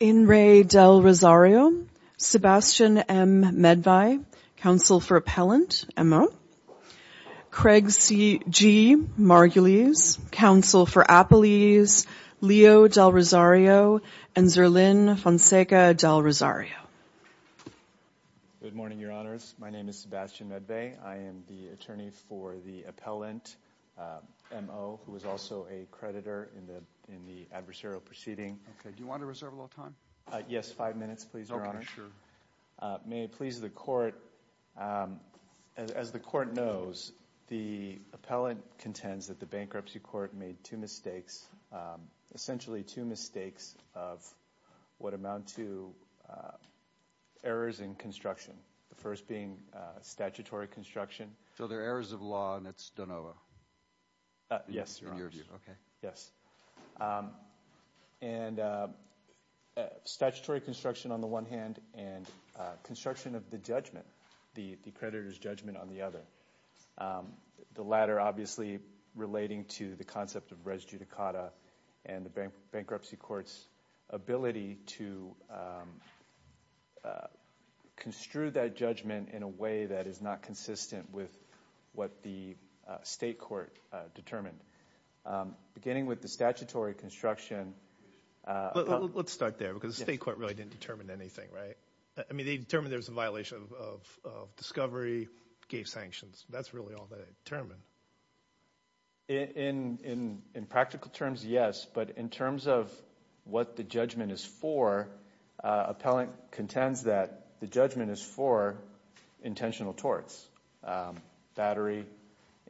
In re Del Rosario, Sebastian M. Medve, Counsel for Appellant, M.O. Craig G. Margulies, Counsel for Appellees, Leo Del Rosario and Zerlyn Fonseca Del Rosario. Good morning, Your Honors. My name is Sebastian Medve. I am the attorney for the appellant, M.O., who is also a creditor in the adversarial proceeding. Do you want to reserve a little time? Yes, five minutes, please, Your Honor. May it please the Court, as the Court knows, the appellant contends that the bankruptcy court made two mistakes, essentially two mistakes of what amount to errors in construction, the first being statutory construction. So they're errors of law, and it's de novo? Yes, Your Honor. In your view, okay. Yes. And statutory construction on the one hand, and construction of the judgment, the creditor's judgment on the other, the latter obviously relating to the concept of res judicata and the bankruptcy court's ability to construe that judgment in a way that is not consistent with what the state court determined. Beginning with the statutory construction... Let's start there, because the state court really didn't determine anything, right? I mean, they determined there was a violation of discovery, gave sanctions. That's really all they determined. In practical terms, yes, but in terms of what the judgment is for, appellant contends that the judgment is for intentional torts, battery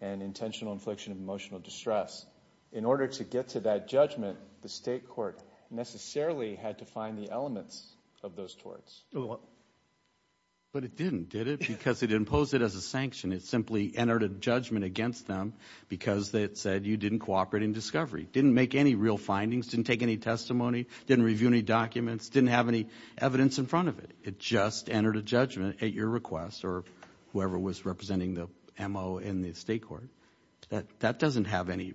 and intentional infliction of emotional distress. In order to get to that judgment, the state court necessarily had to find the elements of those torts. But it didn't, did it? Because it imposed it as a sanction. It simply entered a judgment against them because it said you didn't cooperate in discovery, didn't make any real findings, didn't take any testimony, didn't review any documents, didn't have any evidence in front of it. It just entered a judgment at your request or whoever was representing the MO in the state court. That doesn't have any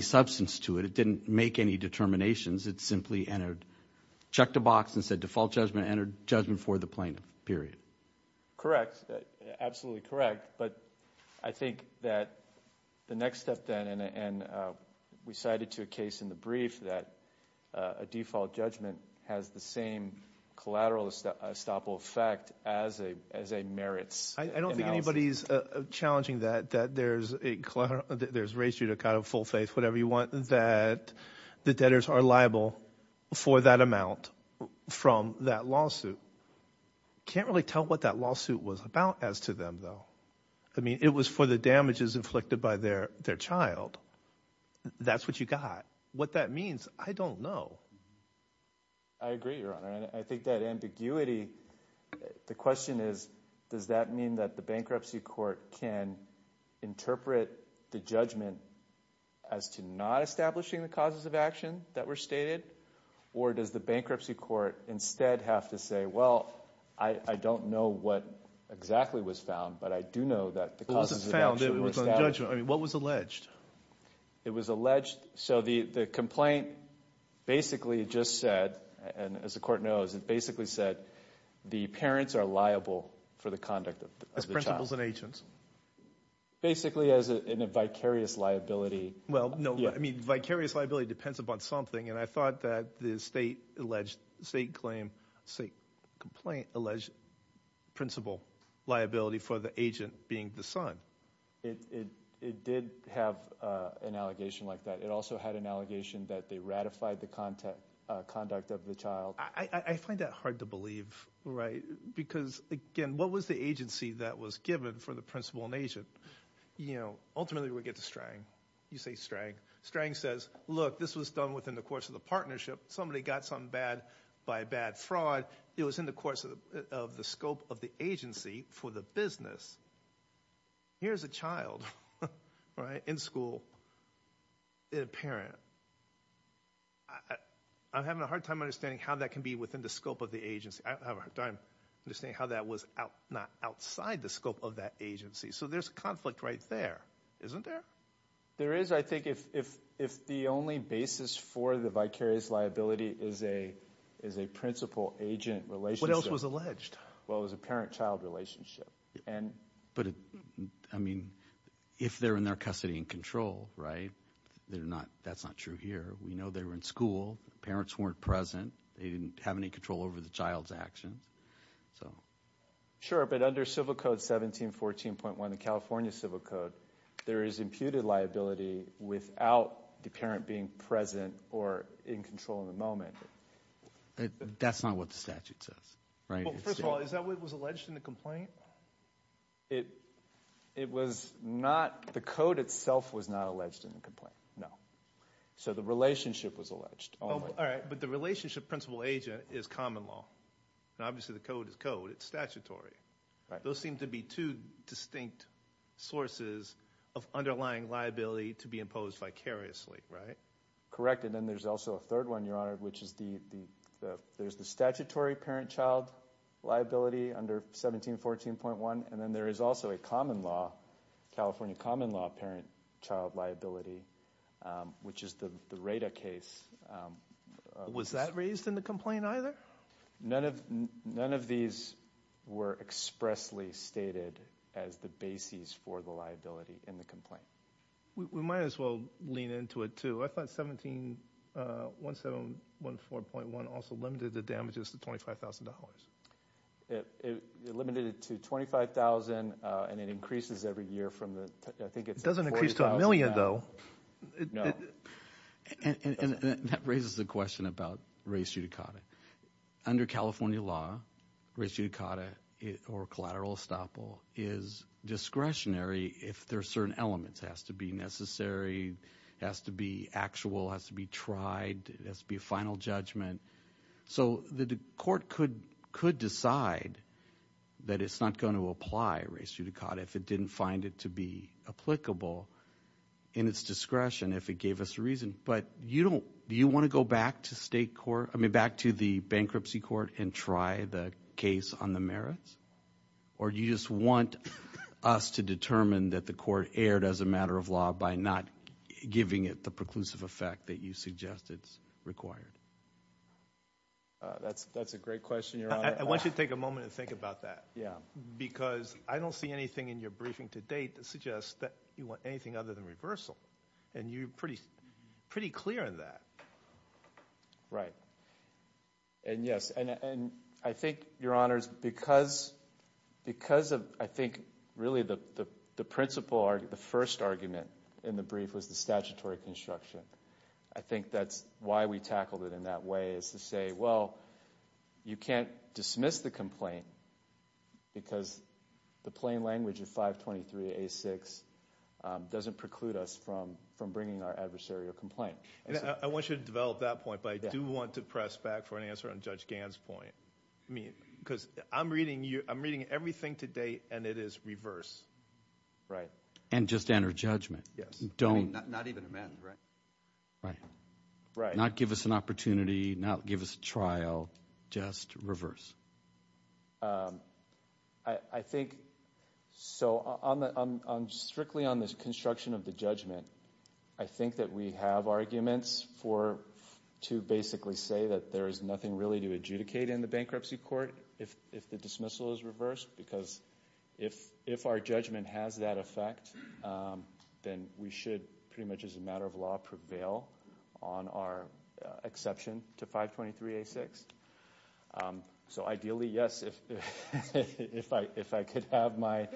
substance to it. It didn't make any determinations. It simply checked a box and said default judgment, entered judgment for the plaintiff, period. Correct. Absolutely correct. But I think that the next step then, and we cited to a case in the brief that a default judgment has the same collateral estoppel effect as a merits analysis. I don't think anybody's challenging that, that there's a ratio to kind of full faith, whatever you want, that the debtors are liable for that amount from that lawsuit. Can't really tell what that lawsuit was about as to them though. I mean, it was for the damages inflicted by their child. That's what you got. What that means, I don't know. I agree, Your Honor. I think that ambiguity, the question is, does that mean that the bankruptcy court can interpret the judgment as to not establishing the causes of action that were stated? Or does the bankruptcy court instead have to say, well, I don't know what exactly was found, but I do know that the causes of action were established. What was alleged? It was alleged, so the complaint basically just said, and as the court knows, it basically said the parents are liable for the conduct of the child. Principles and agents. Basically as in a vicarious liability. Well, no, I mean, vicarious liability depends upon something, and I thought that the state alleged, state claim, state complaint alleged principle liability for the agent being the It did have an allegation like that. It also had an allegation that they ratified the conduct of the child. I find that hard to believe, right? Because, again, what was the agency that was given for the principle and agent? Ultimately we get to Strang. You say Strang. Strang says, look, this was done within the course of the partnership. Somebody got something bad by bad fraud. It was in the course of the scope of the agency for the business. Here's a child, right, in school, a parent. I'm having a hard time understanding how that can be within the scope of the agency. I don't have a hard time understanding how that was not outside the scope of that agency. So there's a conflict right there, isn't there? There is, I think, if the only basis for the vicarious liability is a principle-agent relationship. What else was alleged? Well, it was a parent-child relationship. But, I mean, if they're in their custody and control, right, that's not true here. We know they were in school. The parents weren't present. They didn't have any control over the child's actions. Sure, but under Civil Code 1714.1, the California Civil Code, there is imputed liability without the parent being present or in control in the moment. That's not what the statute says, right? Well, first of all, is that what was alleged in the complaint? It was not, the code itself was not alleged in the complaint, no. So the relationship was alleged only. Oh, all right, but the relationship principle-agent is common law. Obviously, the code is code. It's statutory. Those seem to be two distinct sources of underlying liability to be imposed vicariously, right? Correct, and then there's also a third one, Your Honor, which is the statutory parent-child liability under 1714.1, and then there is also a common law, California common law parent-child liability, which is the RADA case. Was that raised in the complaint, either? None of these were expressly stated as the basis for the liability in the complaint. We might as well lean into it, too. I thought 1714.1 also limited the damages to $25,000. It limited it to $25,000, and it increases every year from the, I think it's $40,000. It doesn't increase to a million, though. No. And that raises the question about res judicata. Under California law, res judicata or collateral estoppel is discretionary if there are certain elements. It has to be necessary. It has to be actual. It has to be tried. It has to be a final judgment. So the court could decide that it's not going to apply res judicata if it didn't find it to be applicable in its discretion if it gave us a reason, but do you want to go back to the bankruptcy court and try the case on the merits, or do you just want us to determine that the court erred as a matter of law by not giving it the preclusive effect that you suggest it's required? That's a great question, Your Honor. I want you to take a moment and think about that, because I don't see anything in your briefing to date that suggests that you want anything other than reversal, and you're pretty clear on that. Right. And yes, and I think, Your Honors, because of, I think, really the principle argument, the first argument in the brief was the statutory construction. I think that's why we tackled it in that way, is to say, well, you can't dismiss the complaint because the plain language of 523A6 doesn't preclude us from bringing our adversary a complaint. I want you to develop that point, but I do want to press back for an answer on Judge Reverse. And just enter judgment. Yes. Don't... I mean, not even amend, right? Right. Right. Not give us an opportunity, not give us a trial, just reverse. I think, so strictly on this construction of the judgment, I think that we have arguments for, to basically say that there is nothing really to adjudicate in the bankruptcy court if the dismissal is reversed, because if our judgment has that effect, then we should pretty much as a matter of law prevail on our exception to 523A6. So ideally, yes, if I could have my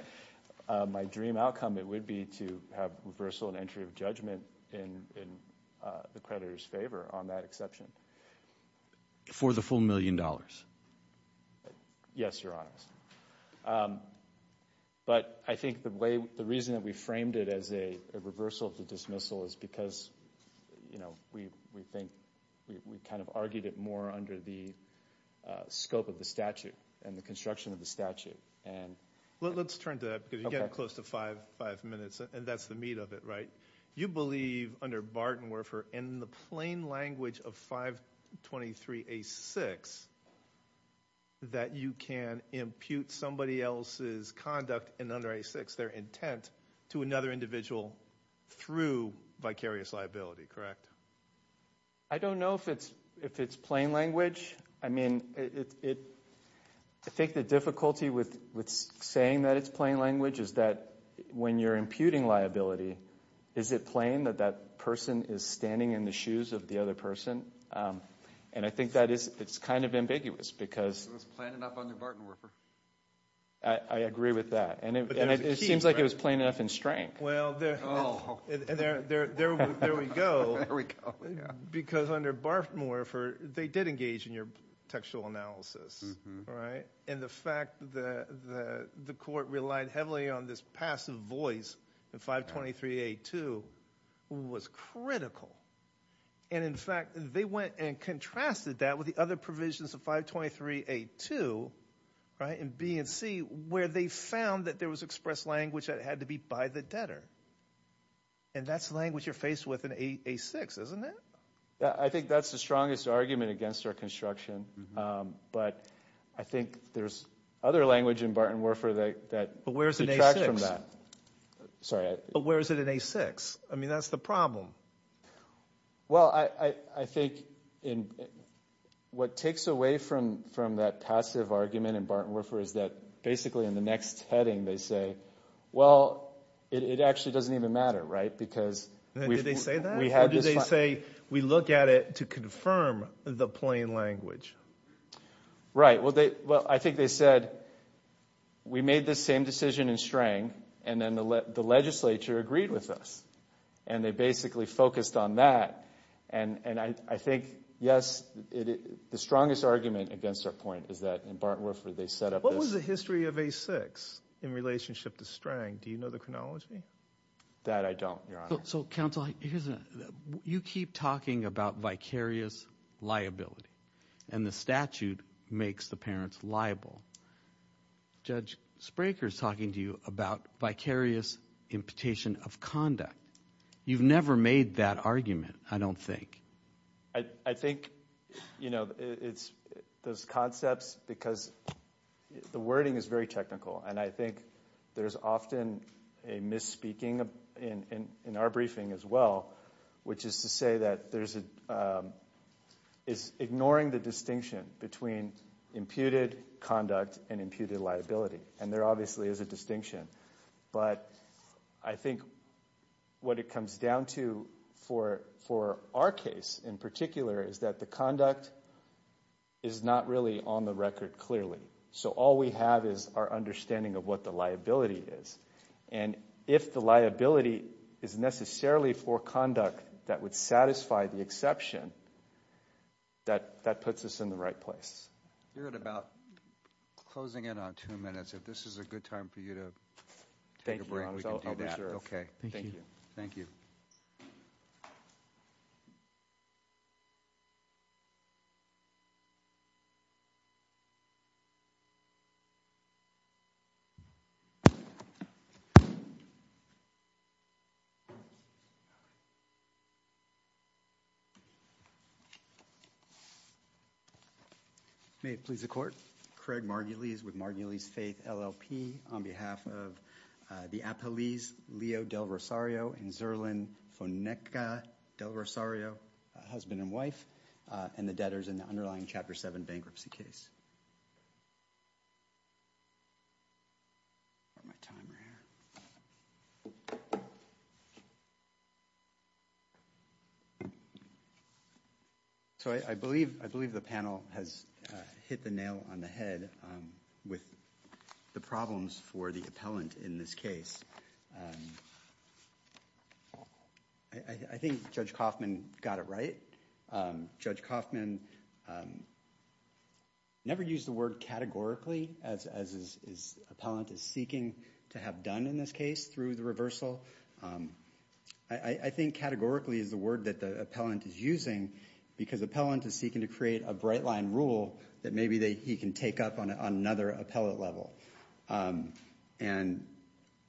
dream outcome, it would be to have reversal and entry of judgment in the creditor's favor on that exception. For the full million dollars? Yes, Your Honor. But I think the way, the reason that we framed it as a reversal of the dismissal is because, you know, we think, we kind of argued it more under the scope of the statute and the construction of the statute. Let's turn to that, because you get close to five minutes, and that's the meat of it, right? You believe, under Barton-Werfer, in the plain language of 523A6, that you can impute somebody else's conduct in under A6, their intent, to another individual through vicarious liability, correct? I don't know if it's plain language. I mean, I think the difficulty with saying that it's is it plain that that person is standing in the shoes of the other person? And I think that is, it's kind of ambiguous, because... It was plain enough under Barton-Werfer. I agree with that. And it seems like it was plain enough in strength. Well, there we go. Because under Barton-Werfer, they did engage in your textual analysis, right? And the fact that the court relied heavily on this passive voice in 523A2 was critical. And in fact, they went and contrasted that with the other provisions of 523A2, right, in B and C, where they found that there was expressed language that had to be by the debtor. And that's language you're faced with in A6, isn't it? I think that's the strongest argument against our construction. But I think there's other language in Barton-Werfer that detracts from that. But where is it in A6? I mean, that's the problem. Well, I think what takes away from that passive argument in Barton-Werfer is that basically in the next heading, they say, well, it actually doesn't even matter, right? Because... Did they say that? Or did they say, we look at it to confirm the plain language? Right. Well, I think they said, we made this same decision in Strang, and then the legislature agreed with us. And they basically focused on that. And I think, yes, the strongest argument against our point is that in Barton-Werfer, they set up this... What was the history of A6 in relationship to Strang? Do you know the chronology? That I don't, Your Honor. So, Counsel, you keep talking about vicarious liability, and the statute makes the parents liable. Judge Spraker's talking to you about vicarious imputation of conduct. You've never made that argument, I don't think. I think, you know, it's those concepts, because the wording is very technical. And I think there's often a misspeaking in our briefing as well, which is to say that there's a... It's ignoring the distinction between imputed conduct and imputed liability. And there obviously is a distinction. But I think what it comes down to for our case in particular is that the conduct is not really on the record clearly. So all we have is our understanding of what the liability is. And if the liability is necessarily for conduct that would satisfy the exception, that puts us in the right place. You're at about closing in on two minutes. If this is a good time for you to take a break, we can do that. Okay. Thank you. Thank you. May it please the court. Craig Margulies with Margulies Faith LLP on behalf of the Apalis Leo del Rosario and Zerlin Foneca del Rosario, husband and wife, and the debtors in the underlying Chapter 7 bankruptcy case. I've got my timer here. So I believe the panel has hit the nail on the head with the problems for the appellant in this case. I think Judge Kaufman got it right. Judge Kaufman never used the word categorically as his appellant is seeking to have done in this case through the reversal. I think categorically is the word that the appellant is using because the appellant is seeking to create a bright line rule that maybe he can take up on another appellate level. And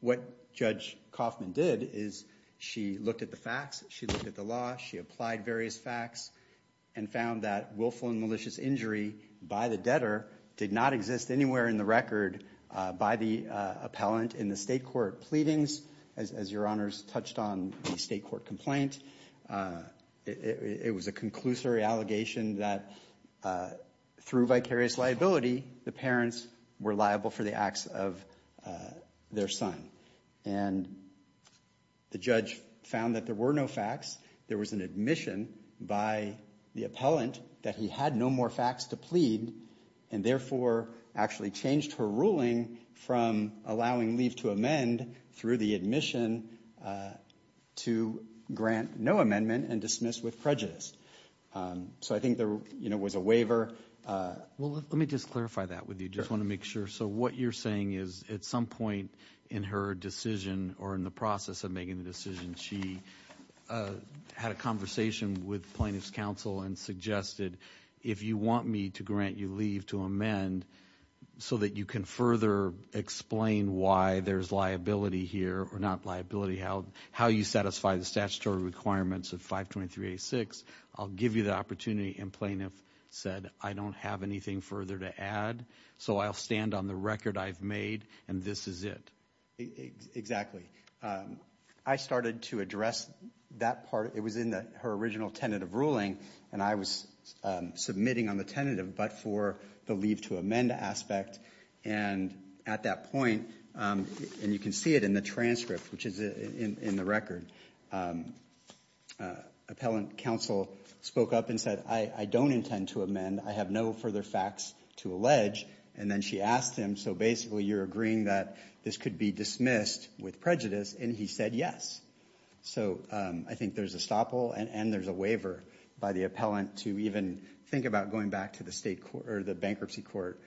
what Judge Kaufman did is she looked at the facts, she looked at the law, she applied various facts and found that willful and malicious injury by the debtor did not exist anywhere in the record by the appellant in the state court. Pleadings, as your honors touched on, the state court complaint, it was a conclusory allegation that through vicarious liability, the parents were liable for the acts of their son. And the judge found that there were no facts. There was an admission by the appellant that he had no more facts to plead and therefore actually changed her ruling from allowing leave to amend through the admission to grant no amendment and dismiss with prejudice. So I think there was a waiver. Let me just clarify that with you. I just want to make sure. So what you're saying is at some point in her decision or in the process of making the decision, she had a conversation with plaintiff's counsel and suggested, if you want me to grant you leave to amend so that you can further explain why there's liability here or not liability, how you satisfy the statutory requirements of 523-86, I'll give you the opportunity. And plaintiff said, I don't have anything further to add. So I'll stand on the record I've made and this is it. Exactly. I started to address that part. It was in her original tentative ruling, and I was submitting on the tentative but for the leave to amend aspect. And at that point, and you can see it in the transcript, which is in the record, appellant counsel spoke up and said, I don't intend to amend. I have no further facts to allege. And then she asked him, so basically you're agreeing that this could be dismissed with prejudice. And he said yes. So I think there's a stopple and there's a waiver by the appellant to even think about going back to the bankruptcy court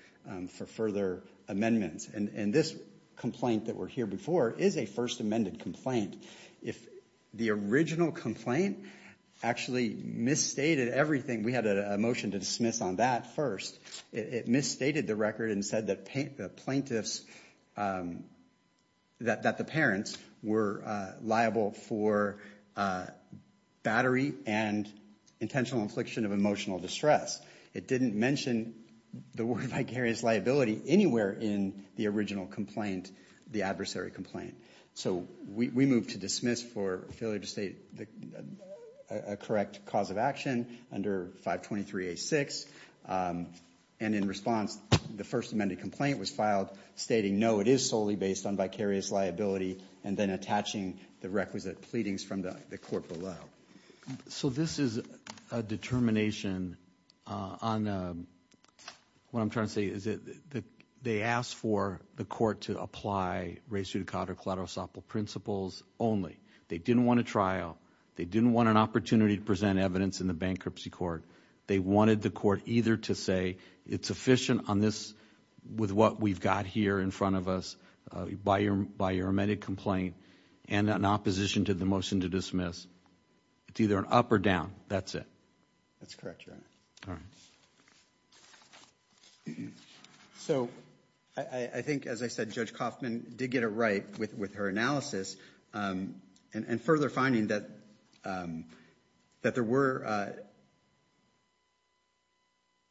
for further amendments. And this complaint that we're here before is a first amended complaint. If the original complaint actually misstated everything, and we had a motion to dismiss on that first, it misstated the record and said that the parents were liable for battery and intentional infliction of emotional distress. It didn't mention the word vicarious liability anywhere in the original complaint, the adversary complaint. So we moved to dismiss for failure to state a correct cause of action under 523A6. And in response, the first amended complaint was filed stating no, it is solely based on vicarious liability and then attaching the requisite pleadings from the court below. So this is a determination on, what I'm trying to say is that they asked for the court to apply res judicata collateral principles only. They didn't want a trial. They didn't want an opportunity to present evidence in the bankruptcy court. They wanted the court either to say it's sufficient on this with what we've got here in front of us by your amended complaint and in opposition to the motion to dismiss. It's either an up or down. That's it. That's correct, Your Honor. All right. So I think, as I said, Judge Kaufman did get it right with her analysis and further finding that there were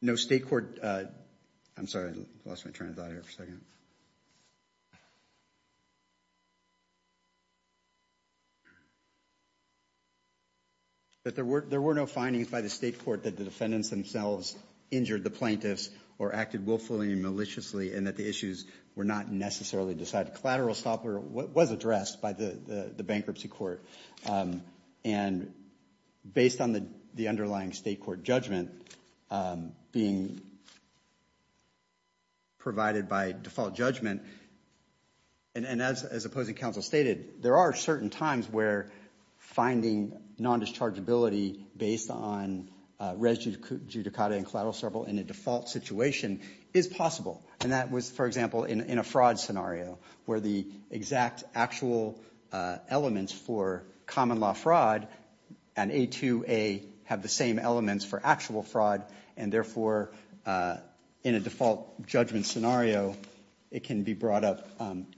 no state court. I'm sorry. I lost my train of thought here for a second. That there were no findings by the state court that the defendants themselves injured the plaintiffs or acted willfully and maliciously and that the issues were not necessarily decided. The collateral stopper was addressed by the bankruptcy court. And based on the underlying state court judgment being provided by default judgment, and as opposing counsel stated, there are certain times where finding non-dischargeability based on res judicata and collateral survival in a default situation is possible. And that was, for example, in a fraud scenario where the exact actual elements for common law fraud and A2A have the same elements for actual fraud and, therefore, in a default judgment scenario, it can be brought up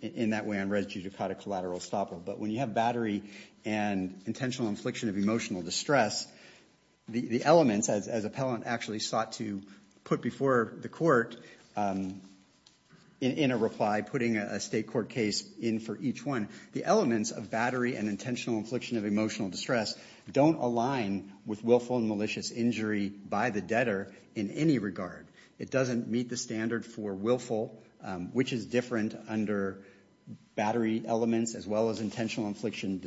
in that way on res judicata collateral stopper. But when you have battery and intentional infliction of emotional distress, the elements, as appellant actually sought to put before the court in a reply, putting a state court case in for each one, the elements of battery and intentional infliction of emotional distress don't align with willful and malicious injury by the debtor in any regard. It doesn't meet the standard for willful, which is different under battery elements, as well as intentional infliction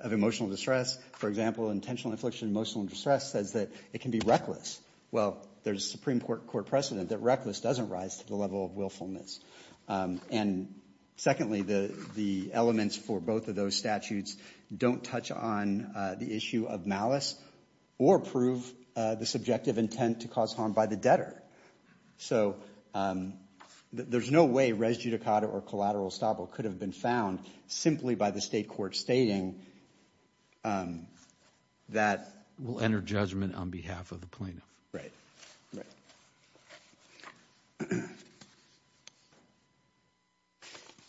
of emotional distress. For example, intentional infliction of emotional distress says that it can be reckless. Well, there's a Supreme Court precedent that reckless doesn't rise to the level of willfulness. And secondly, the elements for both of those statutes don't touch on the issue of malice or prove the subjective intent to cause harm by the debtor. So there's no way res judicata or collateral stopper could have been found simply by the state court stating that we'll enter judgment on behalf of the plaintiff.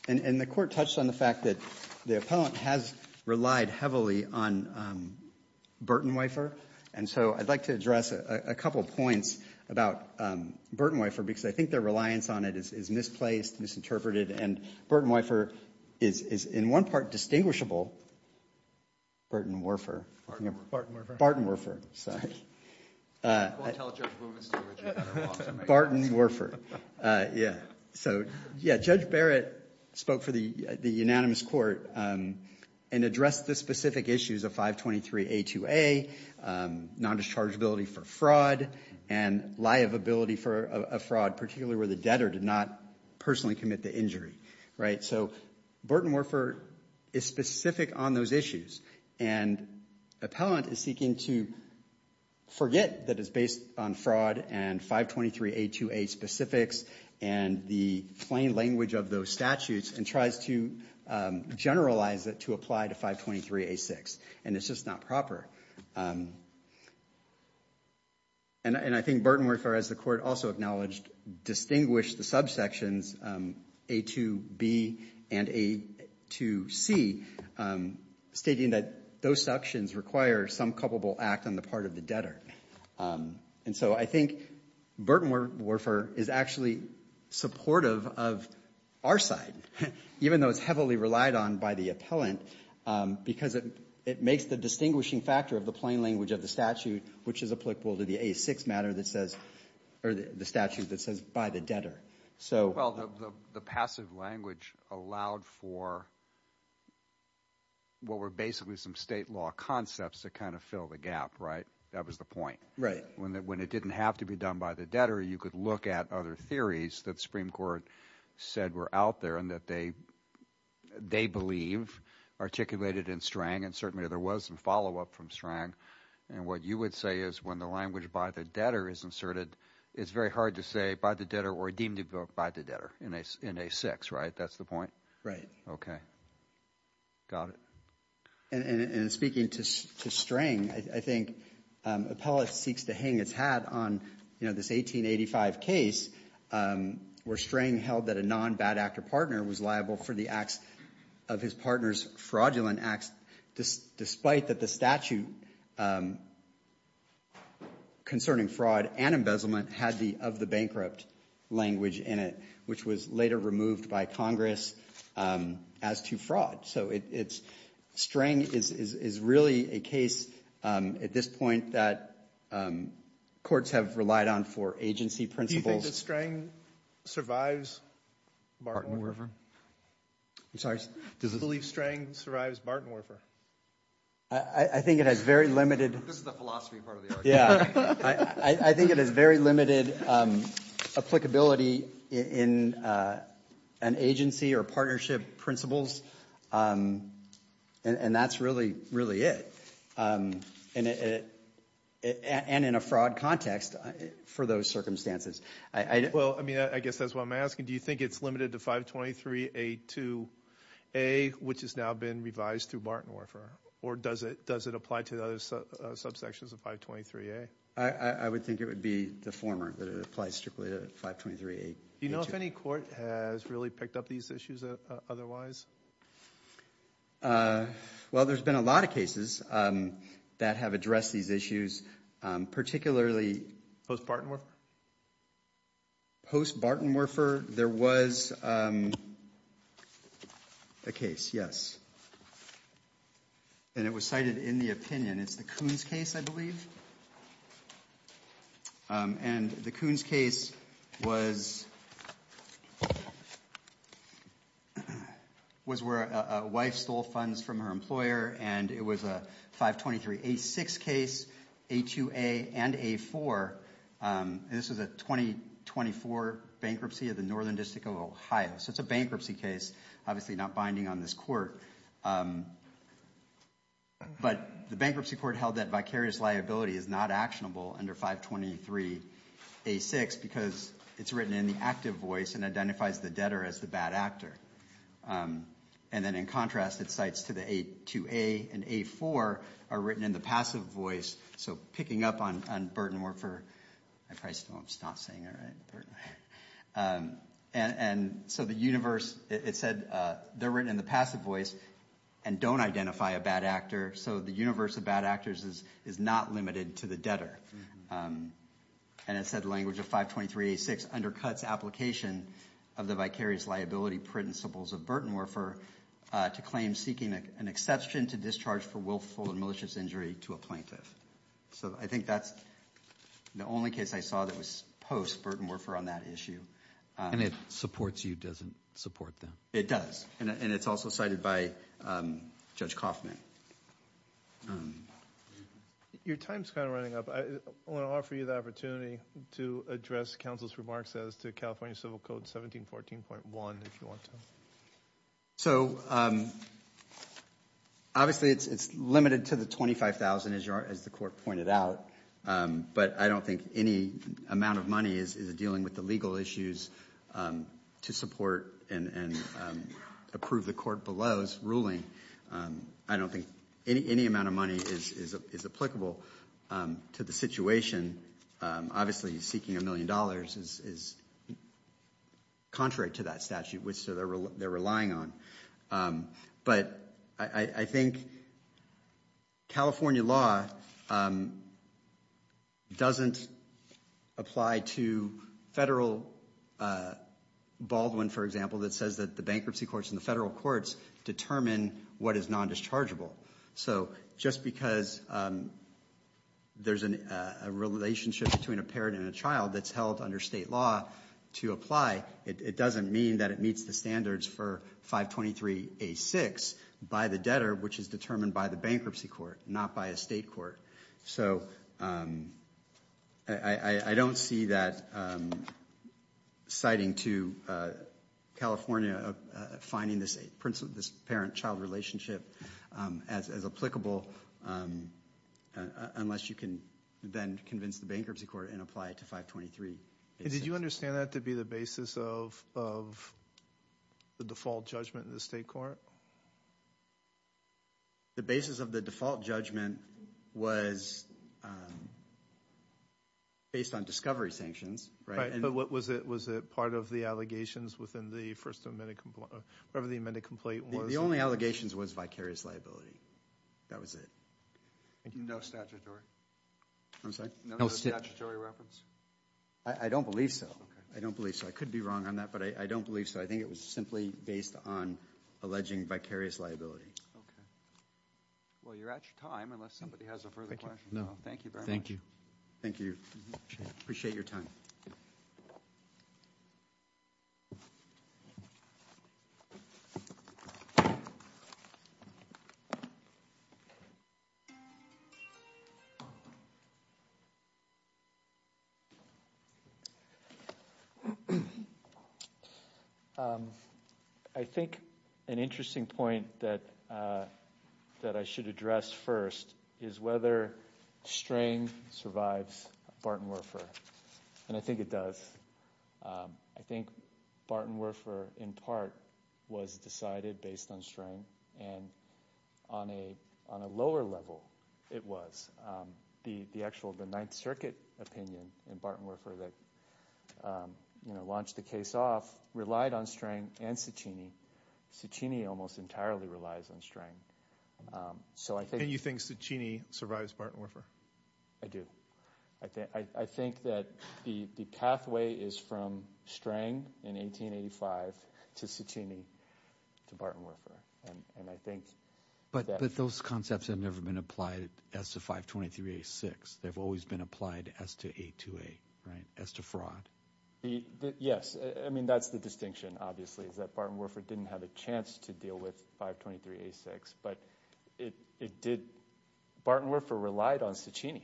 And the court touched on the fact that the appellant has relied heavily on Burton-Weifer. And so I'd like to address a couple of points about Burton-Weifer because I think their reliance on it is misplaced, misinterpreted. And Burton-Weifer is, in one part, distinguishable. Burton-Werfer. Burton-Werfer. I won't tell Judge Wilkins to do it. Burton-Werfer. Yeah. So, yeah, Judge Barrett spoke for the unanimous court and addressed the specific issues of 523A2A, non-dischargeability for fraud, and liability for a fraud, particularly where the debtor did not personally commit the injury. Right? So Burton-Weifer is specific on those issues. And the appellant is seeking to forget that it's based on fraud and 523A2A specifics and the plain language of those statutes and tries to generalize it to apply to 523A6. And it's just not proper. And I think Burton-Weifer, as the court also acknowledged, distinguished the subsections A2B and A2C, stating that those sections require some culpable act on the part of the debtor. And so I think Burton-Weifer is actually supportive of our side, even though it's heavily relied on by the appellant, because it makes the distinguishing factor of the plain language of the statute, which is applicable to the A6 matter that says, or the statute that says, by the debtor. Well, the passive language allowed for what were basically some state law concepts that kind of fill the gap, right? That was the point. Right. When it didn't have to be done by the debtor, you could look at other theories that the Supreme Court said were out there and that they believe articulated in Strang, and certainly there was some follow-up from Strang. And what you would say is when the language by the debtor is inserted, it's very hard to say by the debtor or deemed by the debtor in A6, right? That's the point? Okay. Got it. And speaking to Strang, I think appellate seeks to hang its hat on this 1885 case where Strang held that a non-bad actor partner was liable for the acts of his partner's fraudulent acts, despite that the statute concerning fraud and embezzlement had the of the bankrupt language in it, which was later removed by Congress as to fraud. So it's Strang is really a case at this point that courts have relied on for agency principles. Do you think that Strang survives Bartenwerfer? I'm sorry? Do you believe Strang survives Bartenwerfer? I think it has very limited. This is the philosophy part of the argument. I think it has very limited applicability in an agency or partnership principles, and that's really it, and in a fraud context for those circumstances. Well, I mean, I guess that's what I'm asking. Do you think it's limited to 523A2A, which has now been revised through Bartenwerfer, or does it apply to the other subsections of 523A? I would think it would be the former, that it applies strictly to 523A2. Do you know if any court has really picked up these issues otherwise? Well, there's been a lot of cases that have addressed these issues, particularly... Post-Bartenwerfer? Post-Bartenwerfer, there was a case, yes, and it was cited in the opinion. It's the Coons case, I believe, and the Coons case was where a wife stole funds from her employer, and it was a 523A6 case, A2A and A4, and this was a 2024 bankruptcy of the Northern District of Ohio. So it's a bankruptcy case, obviously not binding on this court, but the bankruptcy court held that vicarious liability is not actionable under 523A6 because it's written in the active voice and identifies the debtor as the bad actor, and then in contrast, it cites to the A2A and A4 are written in the passive voice, so picking up on Bartenwerfer, I probably still won't stop saying Bartenwerfer, and so the universe, it said they're written in the passive voice and don't identify a bad actor, so the universe of bad actors is not limited to the debtor, and it said language of 523A6 undercuts application of the vicarious liability principles of Bartenwerfer to claim seeking an exception to discharge for willful and malicious injury to a plaintiff. So I think that's the only case I saw that was post-Bartenwerfer on that issue. And it supports you, doesn't support them? It does, and it's also cited by Judge Kaufman. Your time's kind of running up. I want to offer you the opportunity to address counsel's remarks as to California Civil Code 1714.1 if you want to. So obviously it's limited to the $25,000, as the court pointed out, but I don't think any amount of money is dealing with the legal issues to support and approve the court below's ruling. I don't think any amount of money is applicable to the situation. Obviously, seeking a million dollars is contrary to that statute, which they're relying on. But I think California law doesn't apply to federal Baldwin, for example, that says that the bankruptcy courts and the federal courts determine what is nondischargeable. So just because there's a relationship between a parent and a child that's held under state law to apply, it doesn't mean that it meets the standards for 523A6 by the debtor, which is determined by the bankruptcy court, not by a state court. So I don't see that citing to California finding this parent-child relationship as applicable unless you can then convince the bankruptcy court and apply it to 523. Did you understand that to be the basis of the default judgment in the state court? The basis of the default judgment was based on discovery sanctions, right? But was it part of the allegations within the first amended complaint or whatever the amended complaint was? The only allegations was vicarious liability. That was it. No statutory? I'm sorry? No statutory reference? I don't believe so. I don't believe so. I could be wrong on that, but I don't believe so. I think it was simply based on alleging vicarious liability. Okay. Well, you're at your time unless somebody has a further question. Thank you very much. Thank you. Thank you. Appreciate your time. I think an interesting point that I should address first is whether String survives Barton-Werfer, and I think it does. I think Barton-Werfer in part was decided based on String, and on a lower level it was. The actual Ninth Circuit opinion in Barton-Werfer that launched the case off relied on String and Ciccini. Ciccini almost entirely relies on String. And you think Ciccini survives Barton-Werfer? I do. I think that the pathway is from String in 1885 to Ciccini to Barton-Werfer. But those concepts have never been applied as to 523-86. They've always been applied as to 828, as to fraud. Yes. I mean, that's the distinction, obviously, is that Barton-Werfer didn't have a chance to deal with 523-86. But Barton-Werfer relied on Ciccini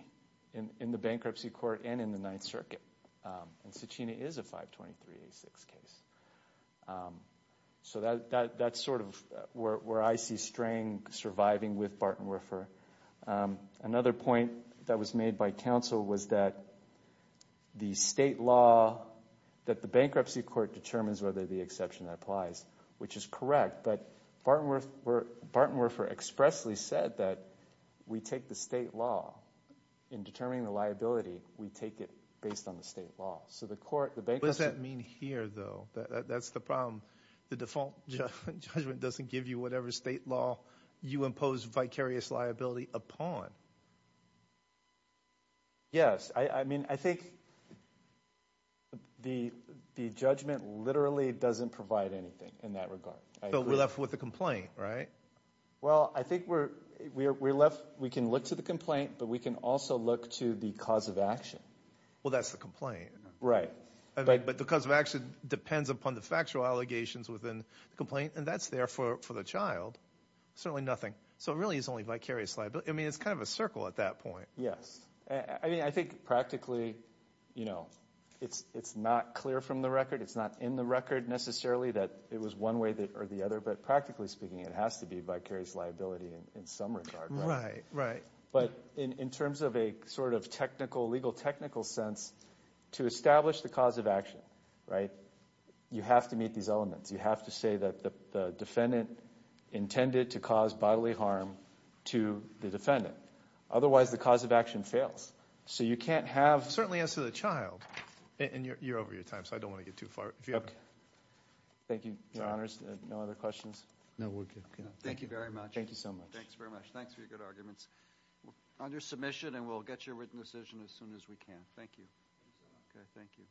in the bankruptcy court and in the Ninth Circuit. And Ciccini is a 523-86 case. So that's sort of where I see String surviving with Barton-Werfer. Another point that was made by counsel was that the state law, that the bankruptcy court determines whether the exception applies, which is correct. But Barton-Werfer expressly said that we take the state law in determining the liability. We take it based on the state law. What does that mean here, though? That's the problem. The default judgment doesn't give you whatever state law you impose vicarious liability upon. Yes. I mean, I think the judgment literally doesn't provide anything in that regard. But we're left with a complaint, right? Well, I think we can look to the complaint, but we can also look to the cause of action. Well, that's the complaint. Right. But the cause of action depends upon the factual allegations within the complaint, and that's there for the child. Certainly nothing. So it really is only vicarious liability. I mean, it's kind of a circle at that point. Yes. I mean, I think practically, you know, it's not clear from the record. It's not in the record necessarily that it was one way or the other. But practically speaking, it has to be vicarious liability in some regard. Right, right. But in terms of a sort of technical, legal technical sense, to establish the cause of action, right, you have to meet these elements. You have to say that the defendant intended to cause bodily harm to the defendant. Otherwise, the cause of action fails. So you can't have— Certainly as to the child. And you're over your time, so I don't want to get too far. Okay. Thank you, Your Honors. No other questions? No, we're good. Thank you very much. Thank you so much. Thanks very much. Thanks for your good arguments. On your submission, and we'll get your written decision as soon as we can. Thank you. Okay, thank you.